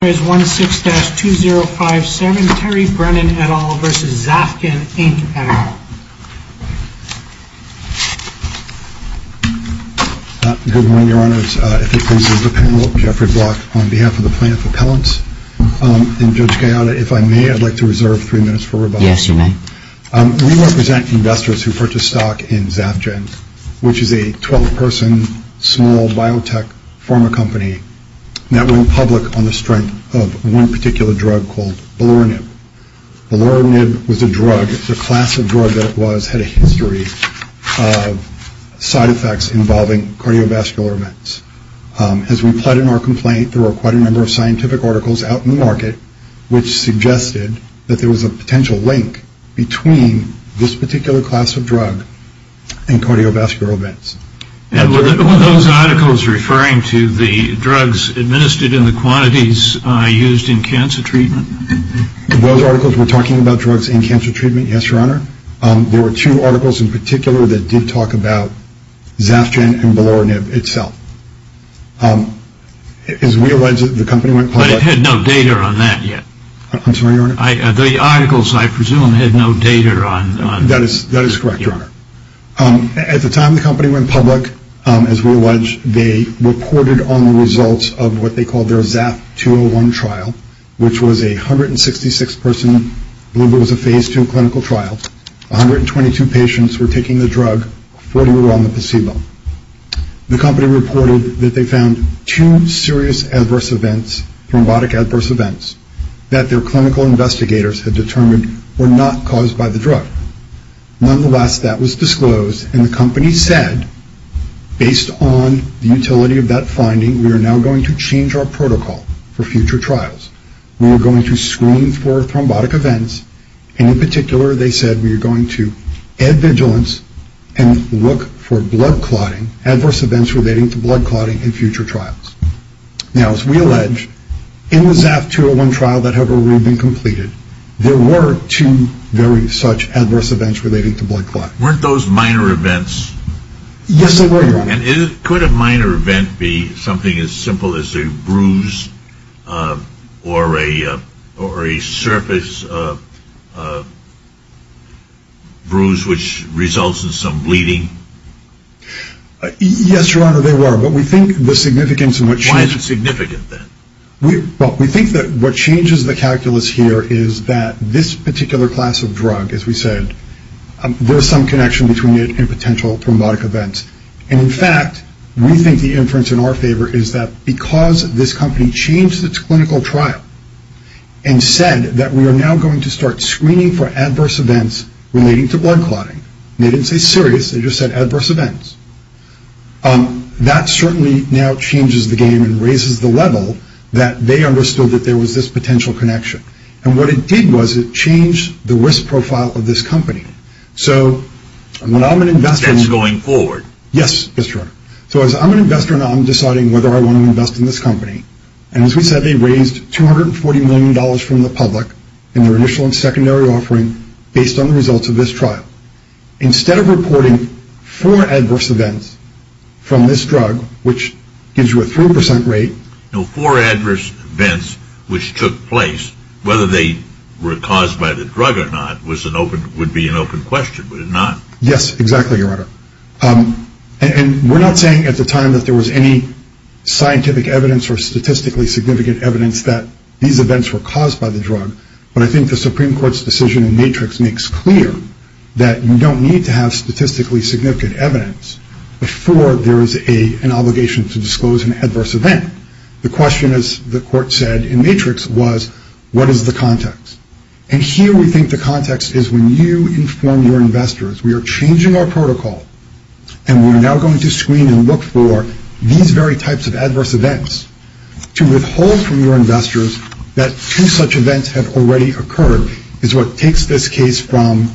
We represent investors who purchase stock in Zafgen, which is a 12-person small biotech pharma company that went public on the strength of one particular drug called beluronib. Beluronib was a drug, the class of drug that it was had a history of side effects involving cardiovascular events. As we pled in our complaint, there were quite a number of scientific articles out in the market which suggested that there was a potential link between this particular class of drug and cardiovascular events. Were those articles referring to the drugs administered in the quantities used in cancer treatment? Those articles were talking about drugs in cancer treatment, yes, your honor. There were two articles in particular that did talk about Zafgen and beluronib itself. But it had no data on that yet. I'm sorry, but it's correct, your honor. At the time the company went public, as we allege, they reported on the results of what they called their ZAF-201 trial, which was a 166-person, I believe it was a phase two clinical trial. 122 patients were taking the drug, 40 were on the placebo. The company reported that they found two serious adverse events, thrombotic adverse events, that their clinical investigators had determined were not caused by the drug. Nonetheless, that was disclosed, and the company said, based on the utility of that finding, we are now going to change our protocol for future trials. We are going to screen for thrombotic events, and in particular, they said, we are going to add vigilance and look for blood clotting, adverse events relating to blood clotting in future trials. Now, as we allege, in the ZAF-201 trial that had already been completed, there were two very such adverse events relating to blood clotting. Weren't those minor events? Yes, they were, your honor. Could a minor event be something as simple as a bruise or a surface bruise which results in some bleeding? Yes, your honor, they were, but we think the significance in which... Why is it significant, then? Well, we think that what changes the calculus here is that this particular class of drug, as we said, there is some connection between it and potential thrombotic events, and in fact, we think the inference in our favor is that because this company changed its clinical trial and said that we are now going to start screening for adverse events relating to blood clotting, and they didn't say serious, they just said adverse events, that certainly now changes the game and raises the level that they understood that there was this potential connection. And what it did was it changed the risk profile of this company. So when I'm an investor... That's going forward. Yes, your honor. So as I'm an investor and I'm deciding whether I want to invest in this company, and as we said, they raised $240 million from the public in their initial and secondary offering based on the results of this trial. Instead of reporting four adverse events from this drug, which gives you a 3% rate... Whether they were caused by the drug or not would be an open question, would it not? Yes, exactly, your honor. And we're not saying at the time that there was any scientific evidence or statistically significant evidence that these events were caused by the drug, but I think the Supreme Court's decision in Matrix makes clear that you don't need to have statistically significant evidence before there is an obligation to disclose an adverse event. The question, as the court said in Matrix, was what is the context? And here we think the context is when you inform your investors. We are changing our protocol, and we're now going to screen and look for these very types of adverse events to withhold from your investors that two such events have already occurred is what takes this case from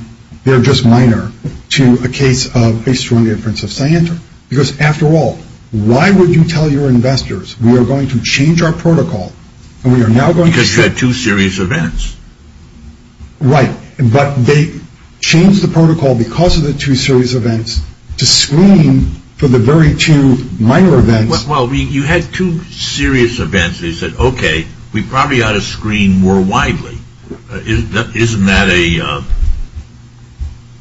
they're just minor to a case of a strong inference of scienter. Because after all, why would you tell your investors we are going to change our protocol and we are now going to... Because you had two serious events. Right, but they changed the protocol because of the two serious events to screen for the very two minor events... Well, you had two serious events and you said, okay, we probably ought to screen more widely. Isn't that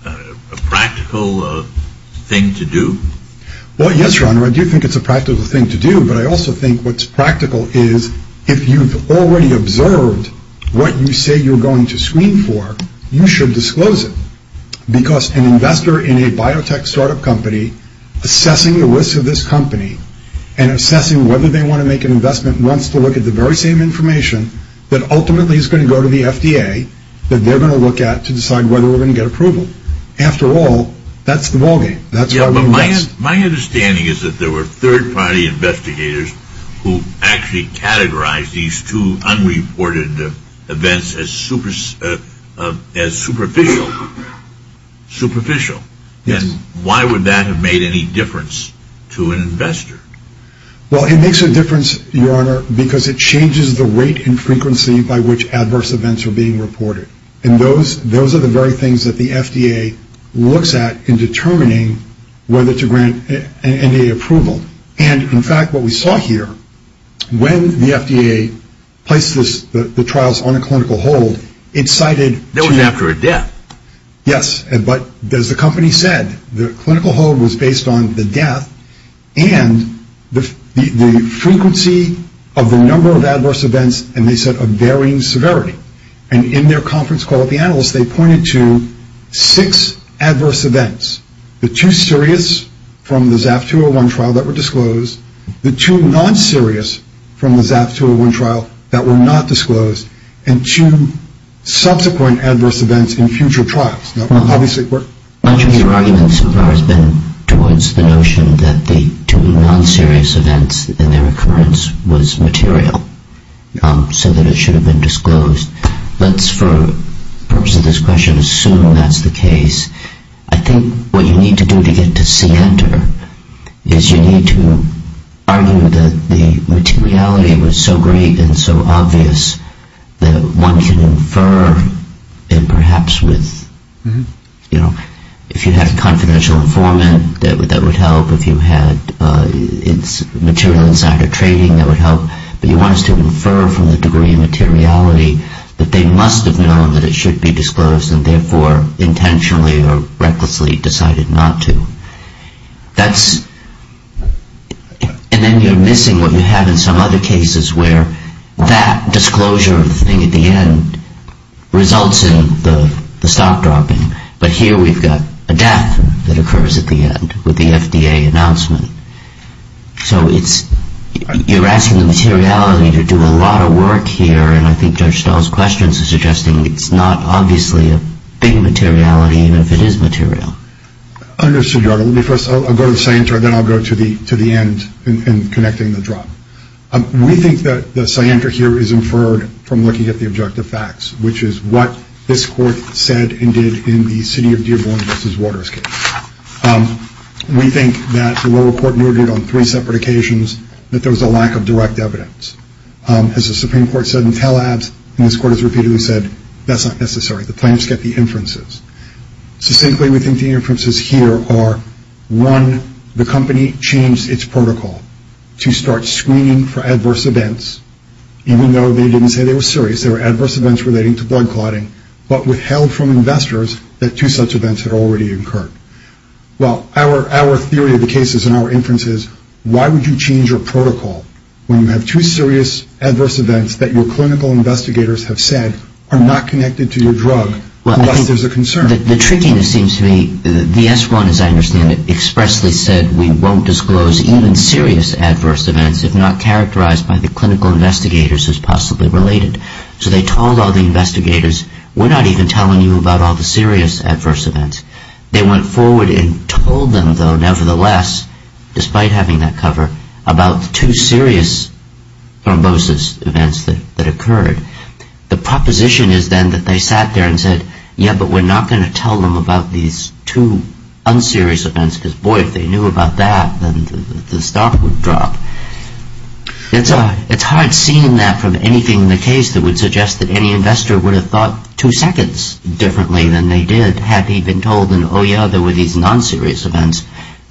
a practical thing to do? Well, yes, Ron, I do think it's a practical thing to do, but I also think what's practical is if you've already observed what you say you're going to screen for, you should disclose it. Because an investor in a biotech startup company assessing the risk of this company and assessing whether they want to make an investment wants to look at the very same information that ultimately is going to go to the FDA that they're going to look at to decide whether we're going to get approval. After all, that's the ballgame. My understanding is that there were third-party investigators who actually categorized these two unreported events as superficial. Well, it makes a difference, Your Honor, because it changes the rate and frequency by which adverse events are being reported. And those are the very things that the FDA looks at in determining whether to grant NDA approval. And in fact, what we saw here, when the FDA placed the trials on a clinical hold, it cited... That was after a death. Yes, but as the company said, the clinical hold was based on the death and the frequency of the number of adverse events, and they said a varying severity. And in their conference call with the analysts, they pointed to six adverse events, the two serious from the ZAF-201 trial that were disclosed, the two non-serious from the ZAF-201 trial that were not disclosed, and two subsequent adverse events in future trials. Much of your argument so far has been towards the notion that the two non-serious events in their occurrence was material, so that it should have been disclosed. Let's, for the purpose of this question, assume that's the case. I think what you need to do to get to Center is you need to argue that the materiality was so great and so obvious that one can infer, and perhaps with, you know, if you had a confidential informant, that would help. If you had material insider trading, that would help. But you want us to infer from the degree of materiality that they must have known that it should be disclosed and therefore intentionally or recklessly decided not to. And then you're missing what you have in some other cases where that disclosure thing at the end results in the stock dropping. But here we've got a death that occurs at the end with the FDA announcement. So you're asking the materiality to do a lot of work here, and I think Judge Stahl's questions are suggesting it's not obviously a big materiality, even if it is material. I understand, Your Honor. Let me first go to the scienter, and then I'll go to the end in connecting the drop. We think that the scienter here is inferred from looking at the objective facts, which is what this Court said and did in the City of Dearborn v. Waterscape. We think that the lower court noted on three separate occasions that there was a lack of direct evidence. As the Supreme Court said in Talab's, and this Court has repeatedly said, that's not necessary. The plaintiffs get the inferences. So simply we think the inferences here are, one, the company changed its protocol to start screening for adverse events, even though they didn't say they were serious. They were adverse events relating to blood clotting, but withheld from investors that two such events had already occurred. Well, our theory of the case is in our inference is, why would you change your protocol when you have two serious adverse events that your clinical investigators have said are not connected to your drug, unless there's a concern? The trickiness seems to me, the S1, as I understand it, expressly said we won't disclose even serious adverse events if not characterized by the clinical investigators as possibly related. So they told all the investigators, we're not even telling you about all the serious adverse events. They went forward and told them, though, nevertheless, despite having that cover, about two serious thrombosis events that occurred. The proposition is then that they sat there and said, yeah, but we're not going to tell them about these two unserious events, because, boy, if they knew about that, then the stock would drop. It's hard seeing that from anything in the case that would suggest that any investor would have thought two seconds differently than they did had he been told, oh, yeah, there were these non-serious events,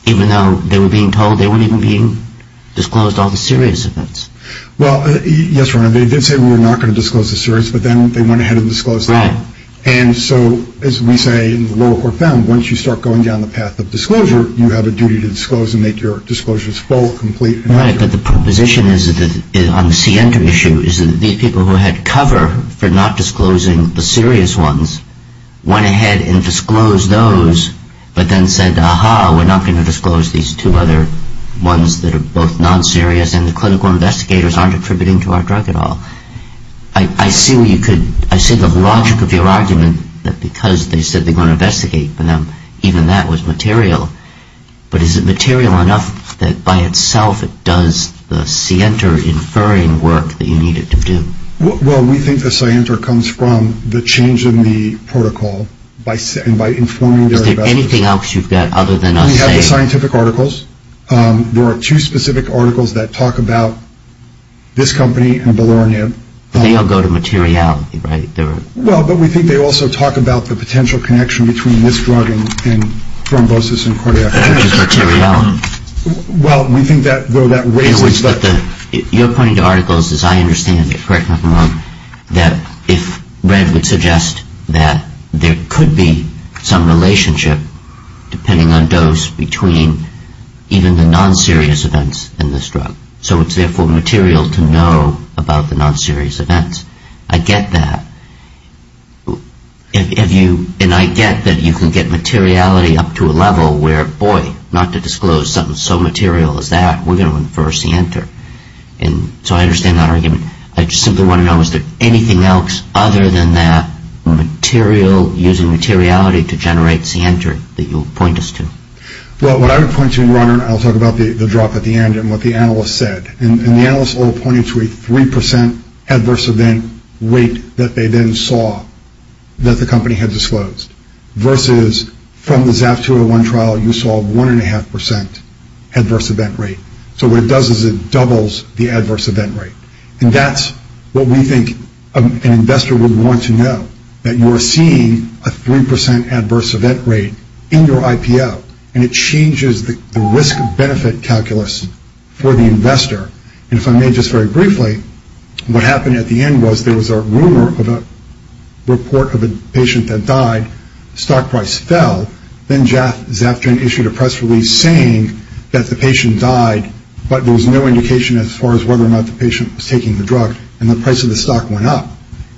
even though they were being told they weren't even being disclosed all the serious events. Well, yes, Your Honor, they did say we were not going to disclose the serious, but then they went ahead and disclosed them. Right. And so, as we say in the lower court found, once you start going down the path of disclosure, you have a duty to disclose and make your disclosures full, complete, and accurate. Right, but the proposition on the CN2 issue is that these people who had cover for not disclosing the serious ones went ahead and disclosed those, but then said, aha, we're not going to disclose these two other ones that are both non-serious, and the clinical investigators aren't attributing to our drug at all. I see the logic of your argument that because they said they were going to investigate for them, even that was material. But is it material enough that by itself it does the scienter-inferring work that you need it to do? Well, we think the scienter comes from the change in the protocol and by informing their investigators. Is there anything else you've got other than a say? We have the scientific articles. There are two specific articles that talk about this company and ballerinib. They all go to materiality, right? Well, but we think they also talk about the potential connection between this drug and thrombosis and cardiac arrest. That is materiality. Well, we think that though that raises the... In other words, you're pointing to articles, as I understand it, correct me if I'm wrong, that if Red would suggest that there could be some relationship, depending on dose, between even the non-serious events in this drug. So it's therefore material to know about the non-serious events. I get that. And I get that you can get materiality up to a level where, boy, not to disclose something so material as that, we're going to infer a scienter. So I understand that argument. I just simply want to know, is there anything else other than that material, using materiality to generate scienter that you'll point us to? Well, what I would point to, and Ron, and I'll talk about the drop at the end and what the analyst said, and the analyst all pointed to a 3% adverse event rate that they then saw that the company had disclosed versus from the ZAF-201 trial, you saw 1.5% adverse event rate. So what it does is it doubles the adverse event rate. And that's what we think an investor would want to know, that you're seeing a 3% adverse event rate in your IPO, and it changes the risk-benefit calculus for the investor. And if I may just very briefly, what happened at the end was there was a rumor of a report of a patient that died, stock price fell, then ZAF-201 issued a press release saying that the patient died, but there was no indication as far as whether or not the patient was taking the drug, and the price of the stock went up.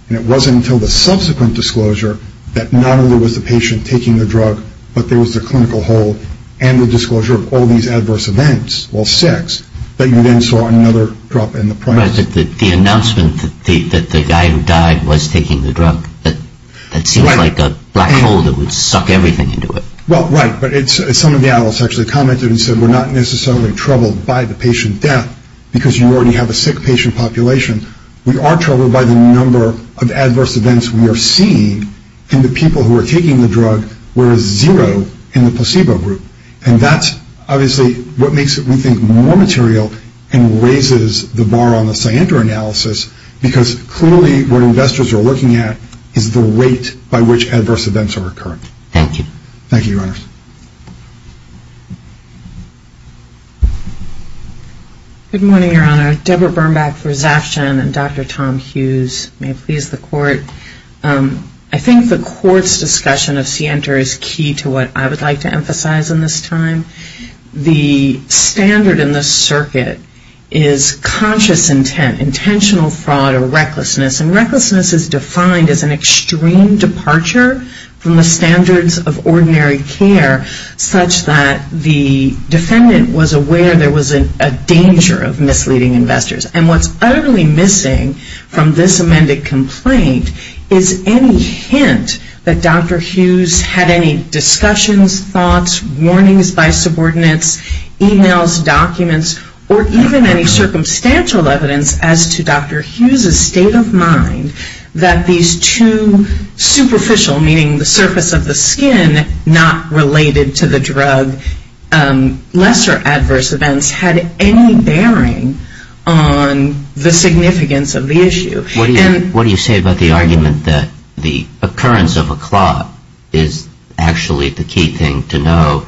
And it wasn't until the subsequent disclosure that not only was the patient taking the drug, but there was the clinical hold and the disclosure of all these adverse events, all six, that you then saw another drop in the price. I'm surprised that the announcement that the guy who died was taking the drug, that seems like a black hole that would suck everything into it. Well, right, but some of the analysts actually commented and said, we're not necessarily troubled by the patient death because you already have a sick patient population. We are troubled by the number of adverse events we are seeing in the people who are taking the drug, whereas zero in the placebo group. And that's obviously what makes it, we think, more material and raises the bar on the Sienter analysis because clearly what investors are looking at is the rate by which adverse events are occurring. Thank you. Thank you, Your Honors. Good morning, Your Honor. Deborah Birnbach for ZAFCHEN and Dr. Tom Hughes. May it please the Court. I think the Court's discussion of Sienter is key to what I would like to emphasize in this time. The standard in this circuit is conscious intent, intentional fraud or recklessness, and recklessness is defined as an extreme departure from the standards of ordinary care such that the defendant was aware there was a danger of misleading investors. And what's utterly missing from this amended complaint is any hint that Dr. Hughes had any discussions, thoughts, warnings by subordinates, e-mails, documents, or even any circumstantial evidence as to Dr. Hughes' state of mind that these two superficial, meaning the surface of the skin, not related to the drug, lesser adverse events had any bearing on the significance of the issue. What do you say about the argument that the occurrence of a clot is actually the key thing to know?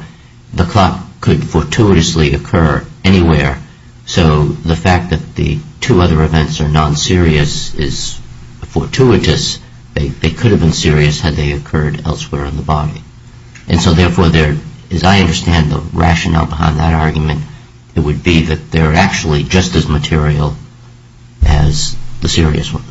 The clot could fortuitously occur anywhere. So the fact that the two other events are non-serious is fortuitous. They could have been serious had they occurred elsewhere in the body. And so therefore, as I understand the rationale behind that argument, it would be that they're actually just as material as the serious ones.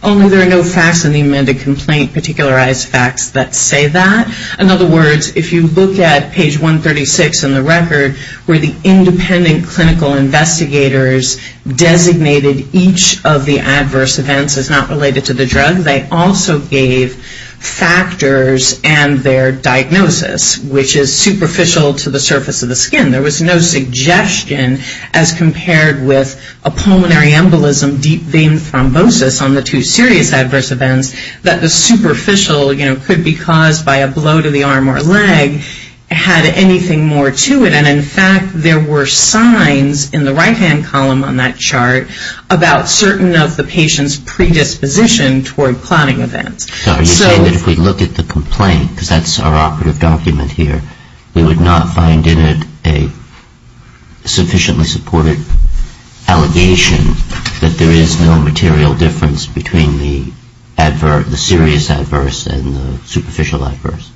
Only there are no facts in the amended complaint, particularized facts that say that. In other words, if you look at page 136 in the record where the independent clinical investigators designated each of the adverse events as not related to the drug, they also gave factors and their diagnosis, which is superficial to the surface of the skin. There was no suggestion as compared with a pulmonary embolism, deep vein thrombosis, on the two serious adverse events that the superficial could be caused by a blow to the arm or leg, had anything more to it. And in fact, there were signs in the right-hand column on that chart about certain of the patient's predisposition toward clotting events. So are you saying that if we look at the complaint, because that's our operative document here, we would not find in it a sufficiently supported allegation that there is no material difference between the serious adverse and the superficial adverse?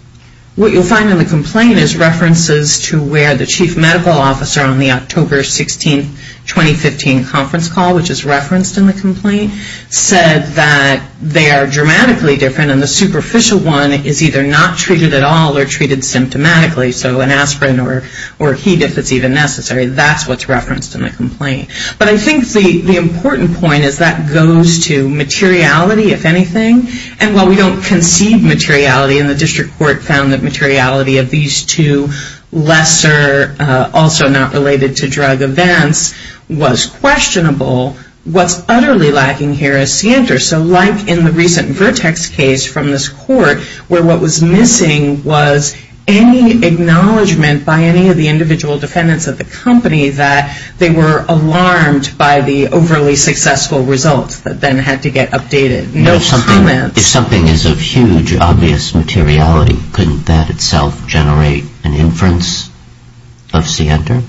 What you'll find in the complaint is references to where the chief medical officer on the October 16, 2015 conference call, which is referenced in the complaint, said that they are dramatically different and the superficial one is either not treated at all or treated symptomatically, so an aspirin or heat if it's even necessary, that's what's referenced in the complaint. But I think the important point is that goes to materiality, if anything, and while we don't concede materiality and the district court found that materiality of these two lesser, also not related to drug events, was questionable, what's utterly lacking here is scienter. So like in the recent Vertex case from this court where what was missing was any acknowledgement by any of the individual defendants of the company that they were alarmed by the overly successful results that then had to get updated. If something is of huge, obvious materiality, couldn't that itself generate an inference of scienter?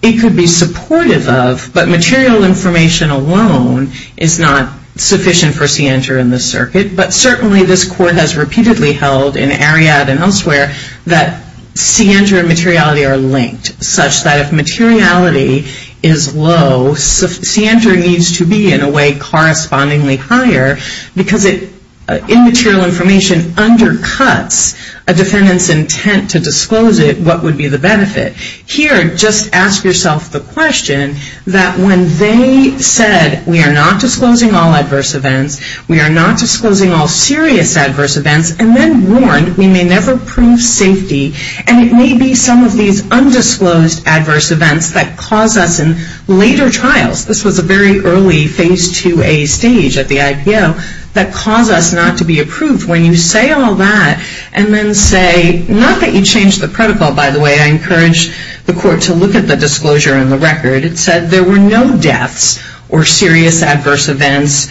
It could be supportive of, but material information alone is not sufficient for scienter in this circuit, but certainly this court has repeatedly held in Ariadne and elsewhere that scienter and materiality are linked, such that if materiality is low, scienter needs to be in a way correspondingly higher, because immaterial information undercuts a defendant's intent to disclose it, what would be the benefit? Here, just ask yourself the question that when they said we are not disclosing all adverse events, we are not disclosing all serious adverse events, and then warned we may never prove safety, and it may be some of these undisclosed adverse events that cause us in later trials, this was a very early phase 2A stage at the IPO, that cause us not to be approved. When you say all that, and then say, not that you changed the protocol by the way, I encourage the court to look at the disclosure in the record, it said there were no deaths or serious adverse events,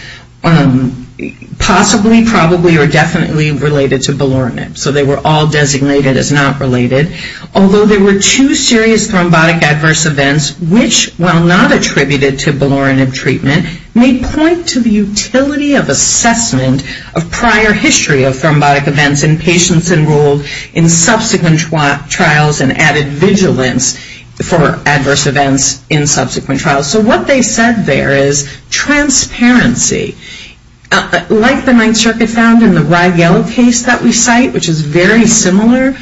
possibly, probably, or definitely related to belurinib, so they were all designated as not related, although there were two serious thrombotic adverse events, which while not attributed to belurinib treatment, may point to the utility of assessment of prior history of thrombotic events in patients enrolled in subsequent trials and added vigilance for adverse events in subsequent trials. So what they said there is transparency. Like the Ninth Circuit found in the Bragg-Yellow case that we cite, which is very similar,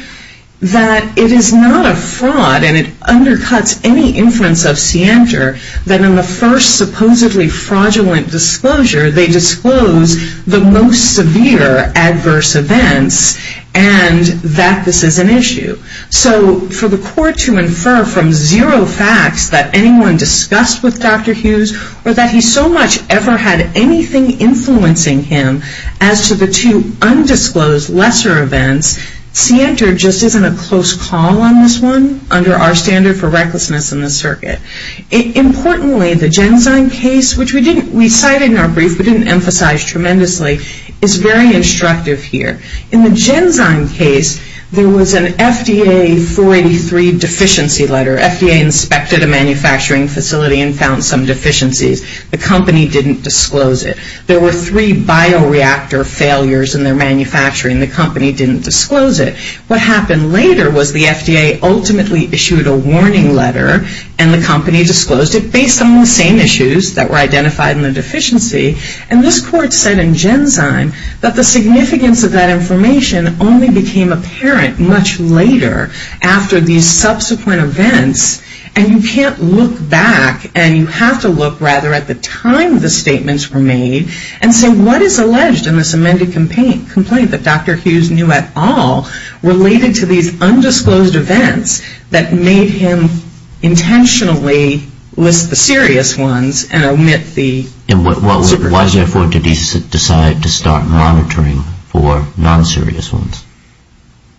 that it is not a fraud, and it undercuts any inference of scienter, that in the first supposedly fraudulent disclosure, they disclose the most severe adverse events, and that this is an issue. So for the court to infer from zero facts that anyone discussed with Dr. Hughes, or that he so much ever had anything influencing him as to the two undisclosed lesser events, scienter just isn't a close call on this one under our standard for recklessness in the circuit. Importantly, the Genzyme case, which we cited in our brief, but didn't emphasize tremendously, is very instructive here. In the Genzyme case, there was an FDA 483 deficiency letter. FDA inspected a manufacturing facility and found some deficiencies. The company didn't disclose it. There were three bioreactor failures in their manufacturing. The company didn't disclose it. What happened later was the FDA ultimately issued a warning letter, and the company disclosed it based on the same issues that were identified in the deficiency, and this court said in Genzyme that the significance of that information only became apparent much later after these subsequent events, and you can't look back, and you have to look rather at the time the statements were made and say what is alleged in this amended complaint that Dr. Hughes knew at all related to these undisclosed events that made him intentionally list the serious ones and omit the... Why, therefore, did he decide to start monitoring for non-serious ones?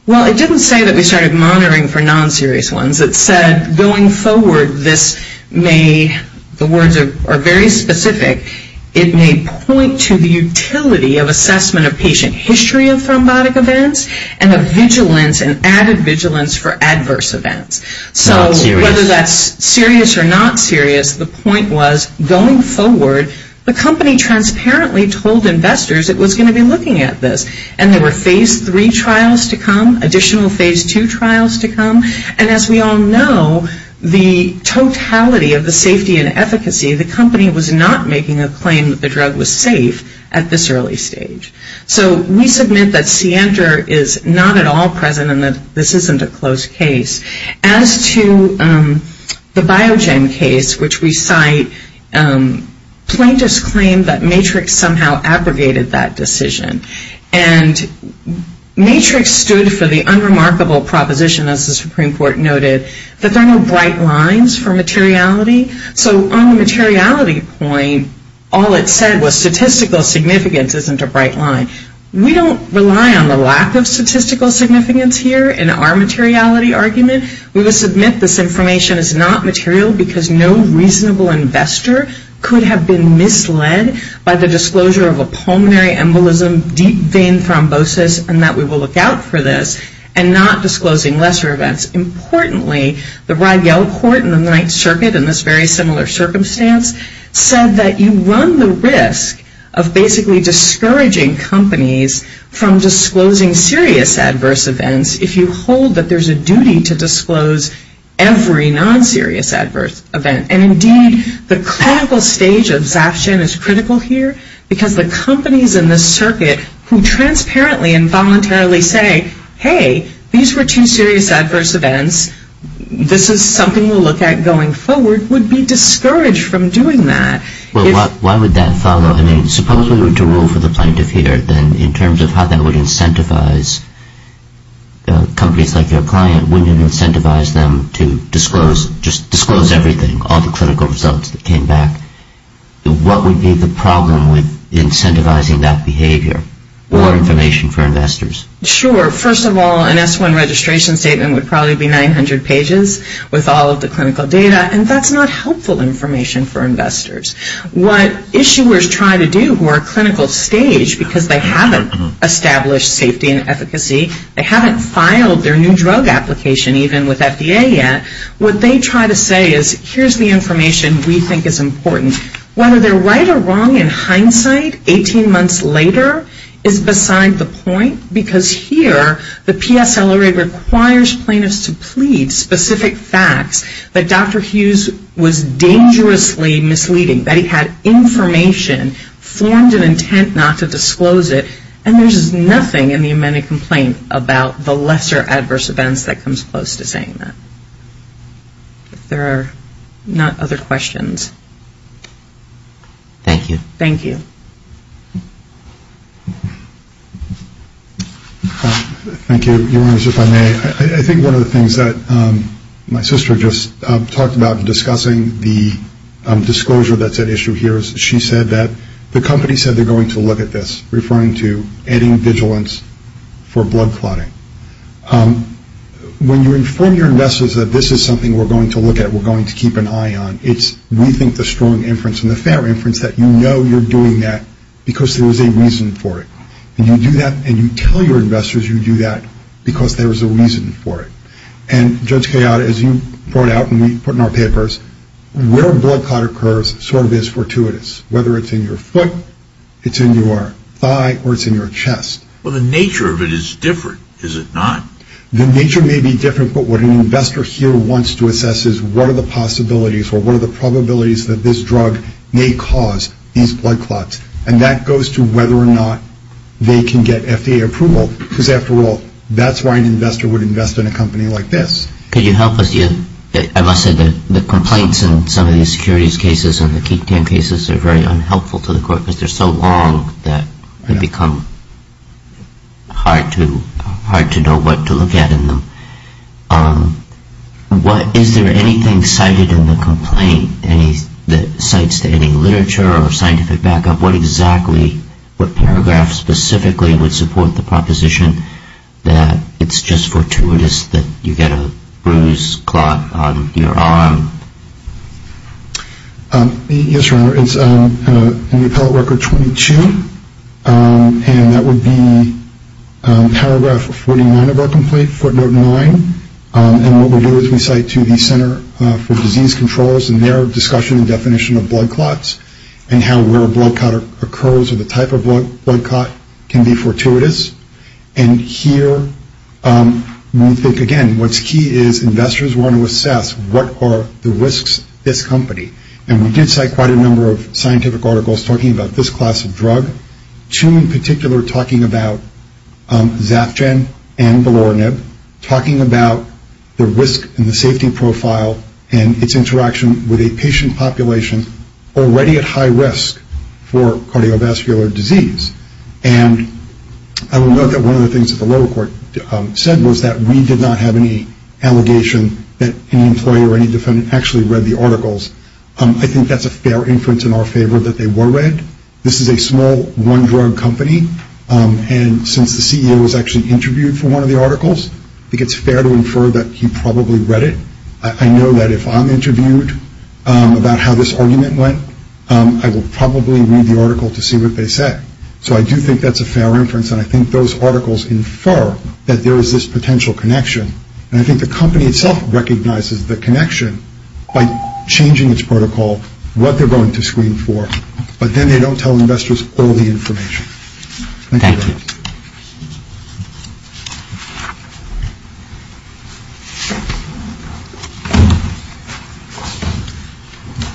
Well, it didn't say that we started monitoring for non-serious ones. It said going forward this may, the words are very specific, it may point to the utility of assessment of patient history of thrombotic events and a vigilance, an added vigilance for adverse events. So whether that's serious or not serious, the point was going forward the company transparently told investors it was going to be looking at this, and there were phase three trials to come, additional phase two trials to come, and as we all know, the totality of the safety and efficacy, the company was not making a claim that the drug was safe at this early stage. So we submit that Sienter is not at all present and that this isn't a close case. As to the Biogen case, which we cite, plaintiffs claim that Matrix somehow abrogated that decision. And Matrix stood for the unremarkable proposition, as the Supreme Court noted, that there are no bright lines for materiality. So on the materiality point, all it said was statistical significance isn't a bright line. We don't rely on the lack of statistical significance here in our materiality argument. We will submit this information is not material because no reasonable investor could have been misled by the disclosure of a pulmonary embolism, deep vein thrombosis, and that we will look out for this, and not disclosing lesser events. Importantly, the Rye-Yellow Court in the Ninth Circuit in this very similar circumstance said that you run the risk of basically discouraging companies from disclosing serious adverse events if you hold that there's a duty to disclose every non-serious adverse event. And indeed, the clinical stage of Zafshan is critical here because the companies in this circuit who transparently and voluntarily say, hey, these were two serious adverse events, this is something we'll look at going forward, would be discouraged from doing that. Well, why would that follow? I mean, suppose we were to rule for the plaintiff here, then in terms of how that would incentivize companies like your client, wouldn't it incentivize them to just disclose everything, all the clinical results that came back? What would be the problem with incentivizing that behavior or information for investors? Sure. First of all, an S-1 registration statement would probably be 900 pages with all of the clinical data, and that's not helpful information for investors. What issuers try to do who are clinical stage because they haven't established safety and efficacy, they haven't filed their new drug application even with FDA yet, what they try to say is here's the information we think is important. Whether they're right or wrong in hindsight 18 months later is beside the point because here the PSLA requires plaintiffs to plead specific facts that Dr. Hughes was dangerously misleading, that he had information formed in intent not to disclose it, and there's nothing in the amended complaint about the lesser adverse events that comes close to saying that. If there are not other questions. Thank you. Thank you. Thank you. Your Honors, if I may, I think one of the things that my sister just talked about discussing, the disclosure that's at issue here is she said that the company said they're going to look at this, referring to adding vigilance for blood clotting. When you inform your investors that this is something we're going to look at, we're going to keep an eye on, it's we think the strong inference and the fair inference that you know you're doing that because there's a reason for it. And you do that and you tell your investors you do that because there's a reason for it. And Judge Kayada, as you brought out and we put in our papers, where blood clot occurs sort of is fortuitous, whether it's in your foot, it's in your thigh, or it's in your chest. Well, the nature of it is different, is it not? The nature may be different, but what an investor here wants to assess is what are the possibilities or what are the probabilities that this drug may cause these blood clots. And that goes to whether or not they can get FDA approval because, after all, that's why an investor would invest in a company like this. Could you help us? As I said, the complaints in some of these securities cases and the Keaton cases are very unhelpful to the court because they're so long that they become hard to know what to look at in them. Is there anything cited in the complaint that cites to any literature or scientific backup? What exactly, what paragraph specifically would support the proposition that it's just fortuitous that you get a bruise clot on your arm? Yes, Your Honor. It's in the appellate record 22, and that would be paragraph 49 of our complaint, footnote 9. And what we do is we cite to the Center for Disease Controls in their discussion and definition of blood clots and how where a blood clot occurs or the type of blood clot can be fortuitous. And here we think, again, what's key is investors want to assess what are the risks to this company. And we did cite quite a number of scientific articles talking about this class of drug, two in particular talking about Zafgen and Belorinib, talking about the risk and the safety profile and its interaction with a patient population already at high risk for cardiovascular disease. And I will note that one of the things that the lower court said was that we did not have any allegation that any employee or any defendant actually read the articles. I think that's a fair inference in our favor that they were read. This is a small one-drug company, and since the CEO was actually interviewed for one of the articles, I think it's fair to infer that he probably read it. I know that if I'm interviewed about how this argument went, I will probably read the article to see what they say. So I do think that's a fair inference, and I think those articles infer that there is this potential connection. And I think the company itself recognizes the connection by changing its protocol, what they're going to screen for, but then they don't tell investors all the information. Thank you.